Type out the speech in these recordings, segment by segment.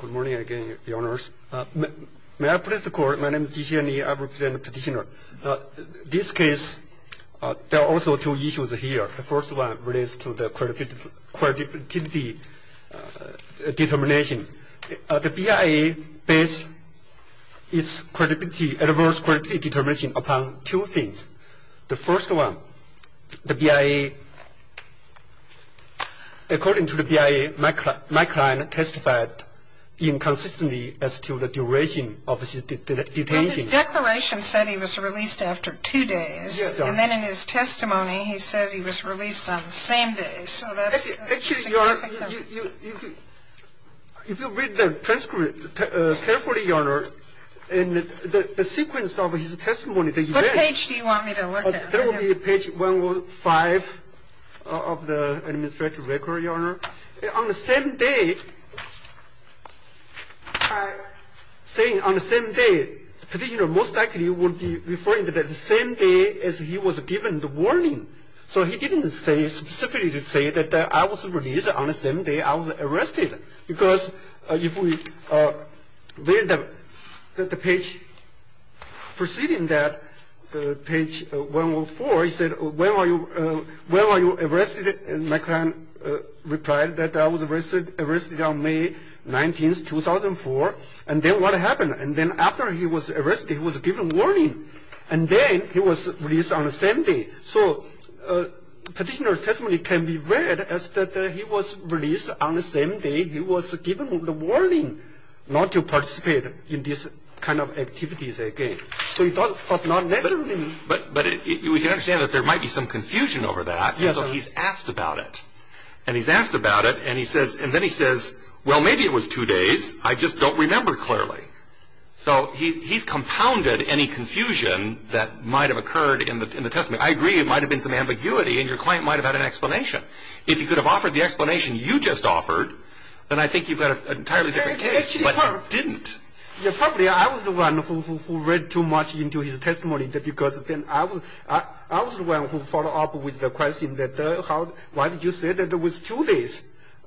Good morning again, Your Honors. May I please record, my name is Ji Hsien-Li, I represent the petitioner. This case, there are also two issues here. The first one relates to the credibility determination. The BIA based its credibility, adverse credibility determination upon two things. The first one, the BIA, according to the BIA, my client testified inconsistently as to the duration of his detention. Well, his declaration said he was released after two days. Yes, Your Honor. And then in his testimony, he said he was released on the same day, so that's significant. Actually, Your Honor, if you read the transcript carefully, Your Honor, in the sequence of his testimony, the event Which page do you want me to look at? That would be page 105 of the administrative record, Your Honor. On the same day, saying on the same day, the petitioner most likely would be referring to the same day as he was given the warning. So he didn't specifically say that I was released on the same day I was arrested. Because if we read the page preceding that, page 104, he said, when were you arrested? And my client replied that I was arrested on May 19, 2004. And then what happened? And then after he was arrested, he was given warning. And then he was released on the same day. So petitioner's testimony can be read as that he was released on the same day he was given the warning not to participate in this kind of activities again. But not necessarily. But we can understand that there might be some confusion over that. Yes, Your Honor. And so he's asked about it. And he's asked about it, and then he says, well, maybe it was two days. I just don't remember clearly. So he's compounded any confusion that might have occurred in the testimony. I agree it might have been some ambiguity, and your client might have had an explanation. If he could have offered the explanation you just offered, then I think you've got an entirely different case. But he didn't. Probably I was the one who read too much into his testimony, because I was the one who followed up with the question, why did you say that it was two days?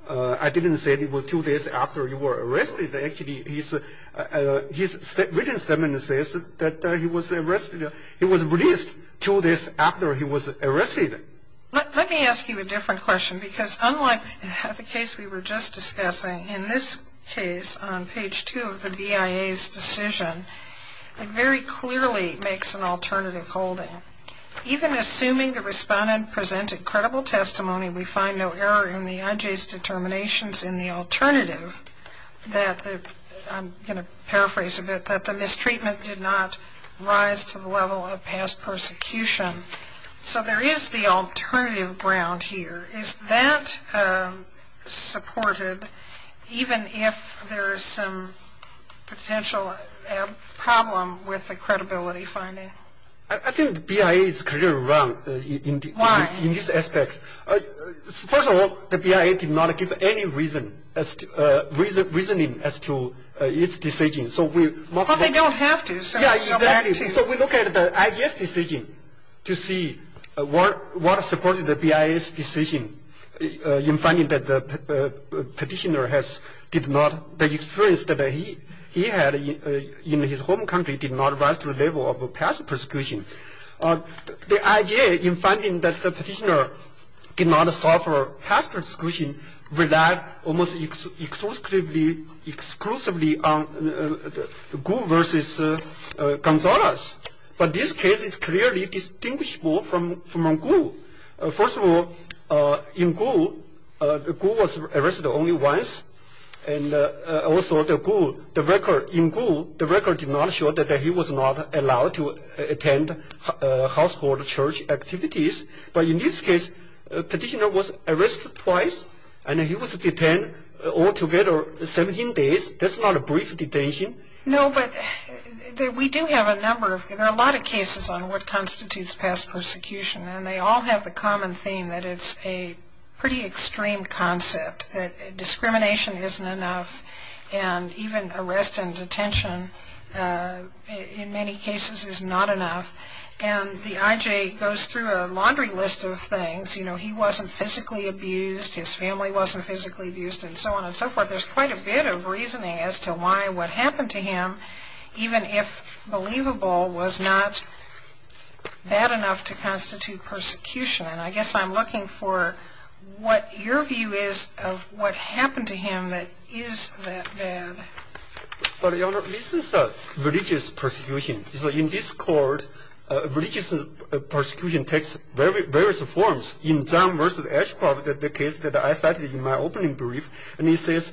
I didn't say it was two days after you were arrested. Actually, his written statement says that he was released two days after he was arrested. Let me ask you a different question, because unlike the case we were just discussing, in this case, on page 2 of the BIA's decision, it very clearly makes an alternative holding. Even assuming the respondent presented credible testimony, we find no error in the IJ's determinations in the alternative that, I'm going to paraphrase a bit, that the mistreatment did not rise to the level of past persecution. So there is the alternative ground here. Is that supported, even if there is some potential problem with the credibility finding? I think the BIA is clearly wrong in this aspect. Why? First of all, the BIA did not give any reasoning as to its decision. Well, they don't have to. Yeah, exactly. So we look at the IJ's decision to see what supported the BIA's decision in finding that the practitioner did not, the experience that he had in his home country did not rise to the level of past persecution. The IJ, in finding that the practitioner did not suffer past persecution, relied almost exclusively on Gu versus Gonzalez. But this case is clearly distinguishable from Gu. First of all, in Gu, Gu was arrested only once, and also the Gu, the record in Gu, the record did not show that he was not allowed to attend household church activities. But in this case, the practitioner was arrested twice, and he was detained altogether 17 days. That's not a brief detention. No, but we do have a number of, there are a lot of cases on what constitutes past persecution, and they all have the common theme that it's a pretty extreme concept, that discrimination isn't enough, and even arrest and detention in many cases is not enough. And the IJ goes through a laundry list of things. You know, he wasn't physically abused, his family wasn't physically abused, and so on and so forth. But there's quite a bit of reasoning as to why what happened to him, even if believable, was not bad enough to constitute persecution. And I guess I'm looking for what your view is of what happened to him that is that bad. Well, Your Honor, this is religious persecution. So in this court, religious persecution takes various forms. In Zhang v. Ashcroft, the case that I cited in my opening brief, and he says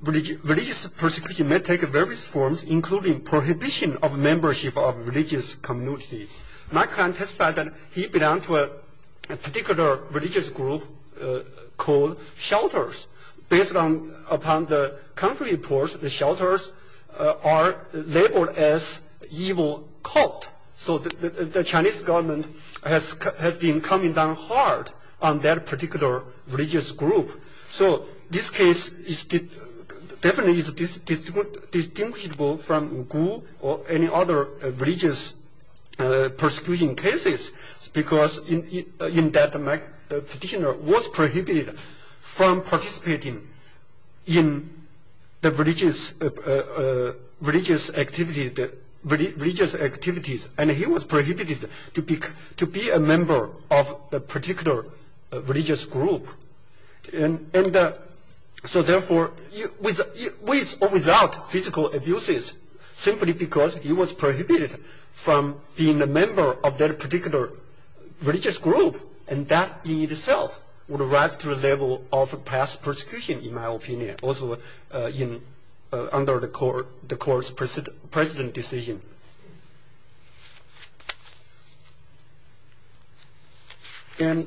religious persecution may take various forms, including prohibition of membership of religious community. My client testified that he belonged to a particular religious group called shelters. Based upon the country reports, the shelters are labeled as evil cult. So the Chinese government has been coming down hard on that particular religious group. So this case definitely is distinguishable from Wu Gu or any other religious persecution cases because that petitioner was prohibited from participating in the religious activities, and he was prohibited to be a member of a particular religious group. So therefore, with or without physical abuses, simply because he was prohibited from being a member of that particular religious group, and that in itself would rise to the level of past persecution, in my opinion, also under the court's precedent decision. And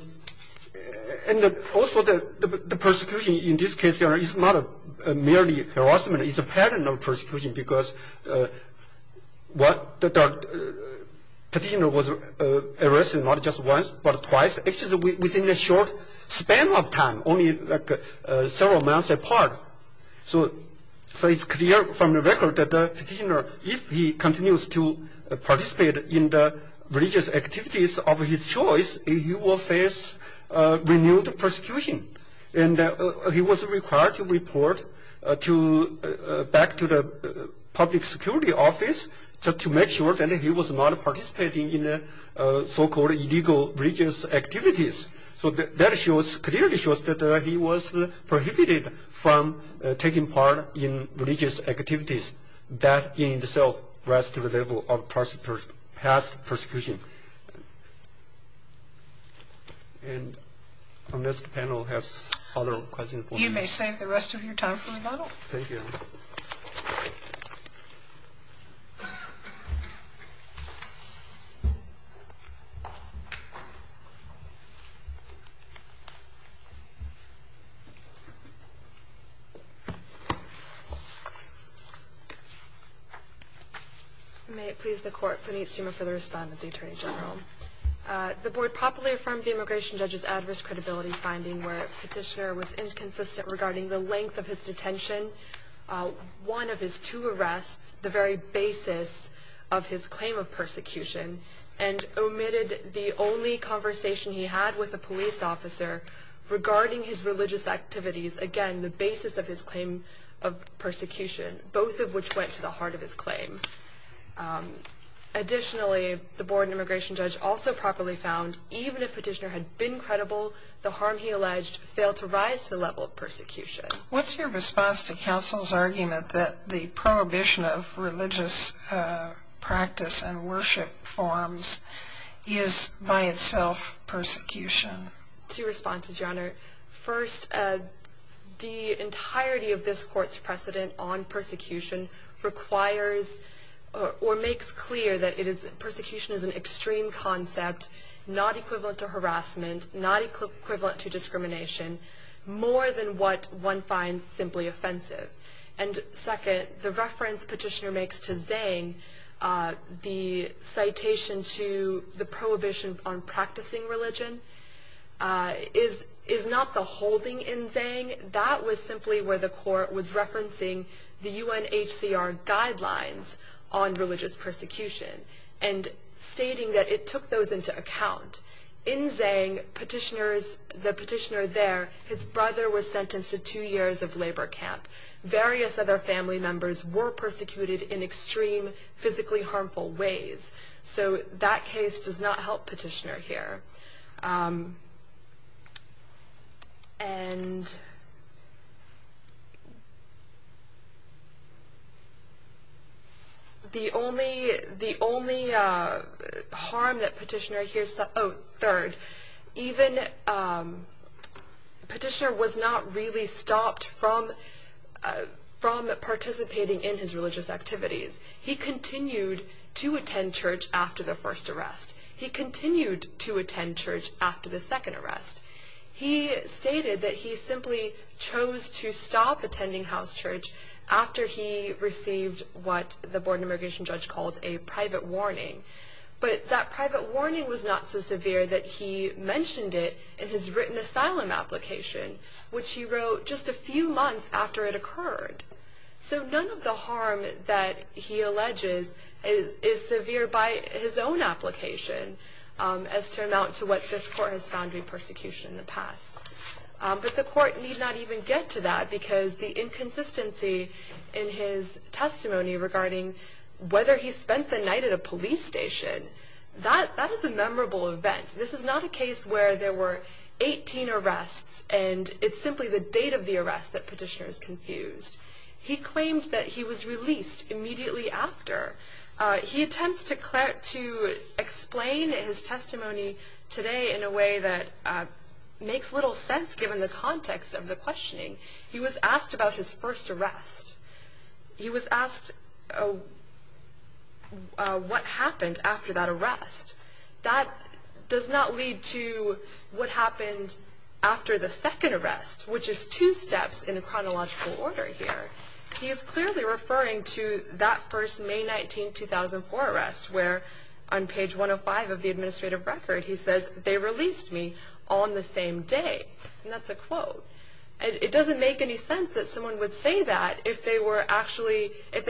also the persecution in this case, Your Honor, is not merely harassment. It's a pattern of persecution because the petitioner was arrested not just once but twice, actually within a short span of time, only several months apart. So it's clear from the record that the petitioner, if he continues to participate in the religious activities of his choice, he will face renewed persecution. And he was required to report back to the public security office just to make sure that he was not participating in so-called illegal religious activities. So that clearly shows that he was prohibited from taking part in religious activities. That in itself rises to the level of past persecution. Thank you. And unless the panel has other questions for me. You may save the rest of your time for rebuttal. Thank you. Thank you. May it please the Court. Puneet Seema for the respondent, the Attorney General. The Board properly affirmed the immigration judge's adverse credibility finding where the petitioner was inconsistent regarding the length of his detention, one of his two arrests, the very basis of his claim of persecution, and omitted the only conversation he had with a police officer regarding his religious activities, again, the basis of his claim of persecution, both of which went to the heart of his claim. Additionally, the Board and immigration judge also properly found, even if the petitioner had been credible, the harm he alleged failed to rise to the level of persecution. What's your response to counsel's argument that the prohibition of religious practice and worship forms is by itself persecution? Two responses, Your Honor. First, the entirety of this Court's precedent on persecution requires or makes clear that persecution is an extreme concept, not equivalent to harassment, not equivalent to discrimination, more than what one finds simply offensive. And second, the reference petitioner makes to Zhang, the citation to the prohibition on practicing religion, is not the holding in Zhang. That was simply where the Court was referencing the UNHCR guidelines on religious persecution and stating that it took those into account. In Zhang, the petitioner there, his brother was sentenced to two years of labor camp. Various other family members were persecuted in extreme, physically harmful ways. So that case does not help petitioner here. And the only harm that petitioner hears, oh, third, even petitioner was not really stopped from participating in his religious activities. He continued to attend church after the first arrest. He continued to attend church after the second arrest. He stated that he simply chose to stop attending house church after he received what the Board of Immigration Judge calls a private warning. But that private warning was not so severe that he mentioned it in his written asylum application, which he wrote just a few months after it occurred. So none of the harm that he alleges is severe by his own application as to amount to what this Court has found in persecution in the past. But the Court need not even get to that because the inconsistency in his testimony regarding whether he spent the night at a police station, that is a memorable event. This is not a case where there were 18 arrests and it's simply the date of the arrest that petitioner is confused. He claims that he was released immediately after. He attempts to explain his testimony today in a way that makes little sense given the context of the questioning. He was asked about his first arrest. He was asked what happened after that arrest. That does not lead to what happened after the second arrest, which is two steps in a chronological order here. He is clearly referring to that first May 19, 2004 arrest where on page 105 of the administrative record he says, they released me on the same day. And that's a quote. It doesn't make any sense that someone would say that if they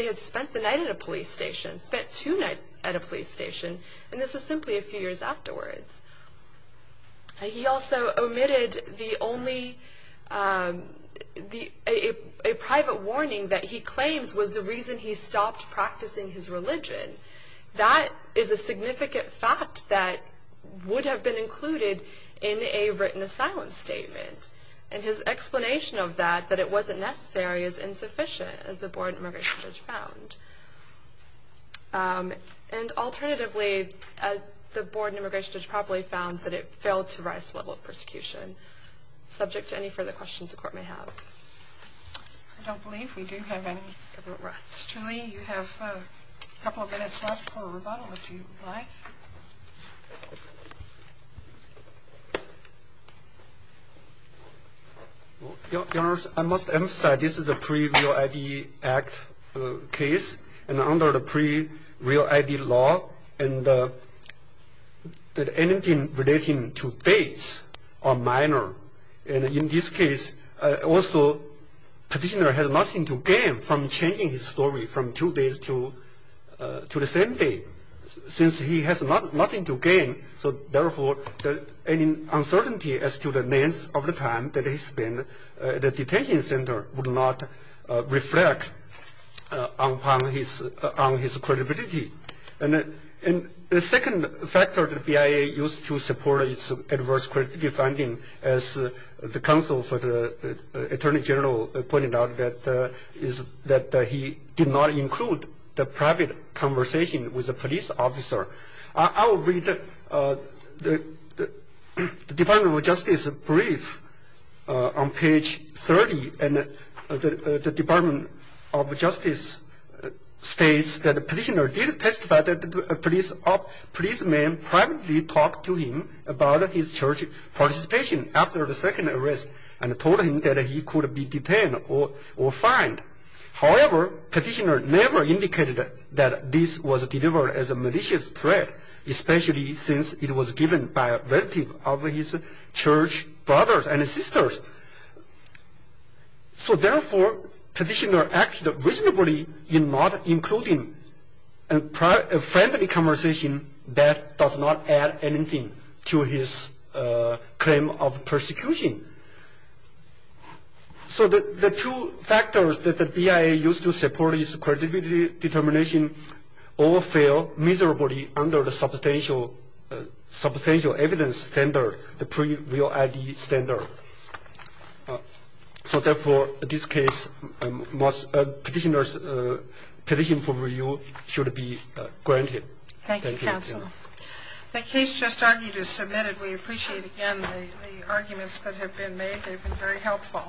had spent the night at a police station, spent two nights at a police station. And this is simply a few years afterwards. He also omitted a private warning that he claims was the reason he stopped practicing his religion. That is a significant fact that would have been included in a written asylum statement. And his explanation of that, that it wasn't necessary, is insufficient, as the Board of Immigration Judge found. And alternatively, the Board of Immigration Judge probably found that it failed to rise to the level of persecution. Subject to any further questions the Court may have. I don't believe we do have any government arrests. Mr. Li, you have a couple of minutes left for a rebuttal if you would like. Your Honor, I must emphasize this is a pre-Real ID Act case, and under the pre-Real ID law, and anything relating to dates are minor. And in this case, also, petitioner has nothing to gain from changing his story from two days to the same day, since he has nothing to gain. So, therefore, any uncertainty as to the length of the time that he spent at the detention center would not reflect on his credibility. And the second factor that the BIA used to support its adverse credibility finding, as the counsel for the Attorney General pointed out, is that he did not include the private conversation with the police officer. I will read the Department of Justice brief on page 30, and the Department of Justice states that the petitioner did testify that a policeman privately talked to him about his church participation after the second arrest, and told him that he could be detained or fined. However, petitioner never indicated that this was delivered as a malicious threat, especially since it was given by a relative of his church brothers and sisters. So, therefore, petitioner acted reasonably in not including a friendly conversation that does not add anything to his claim of persecution. So the two factors that the BIA used to support its credibility determination all fail miserably under the substantial evidence standard, the pre-real ID standard. So, therefore, this case, petitioner's petition for review should be granted. Thank you. Thank you, counsel. The case just argued is submitted. We appreciate, again, the arguments that have been made. They've been very helpful.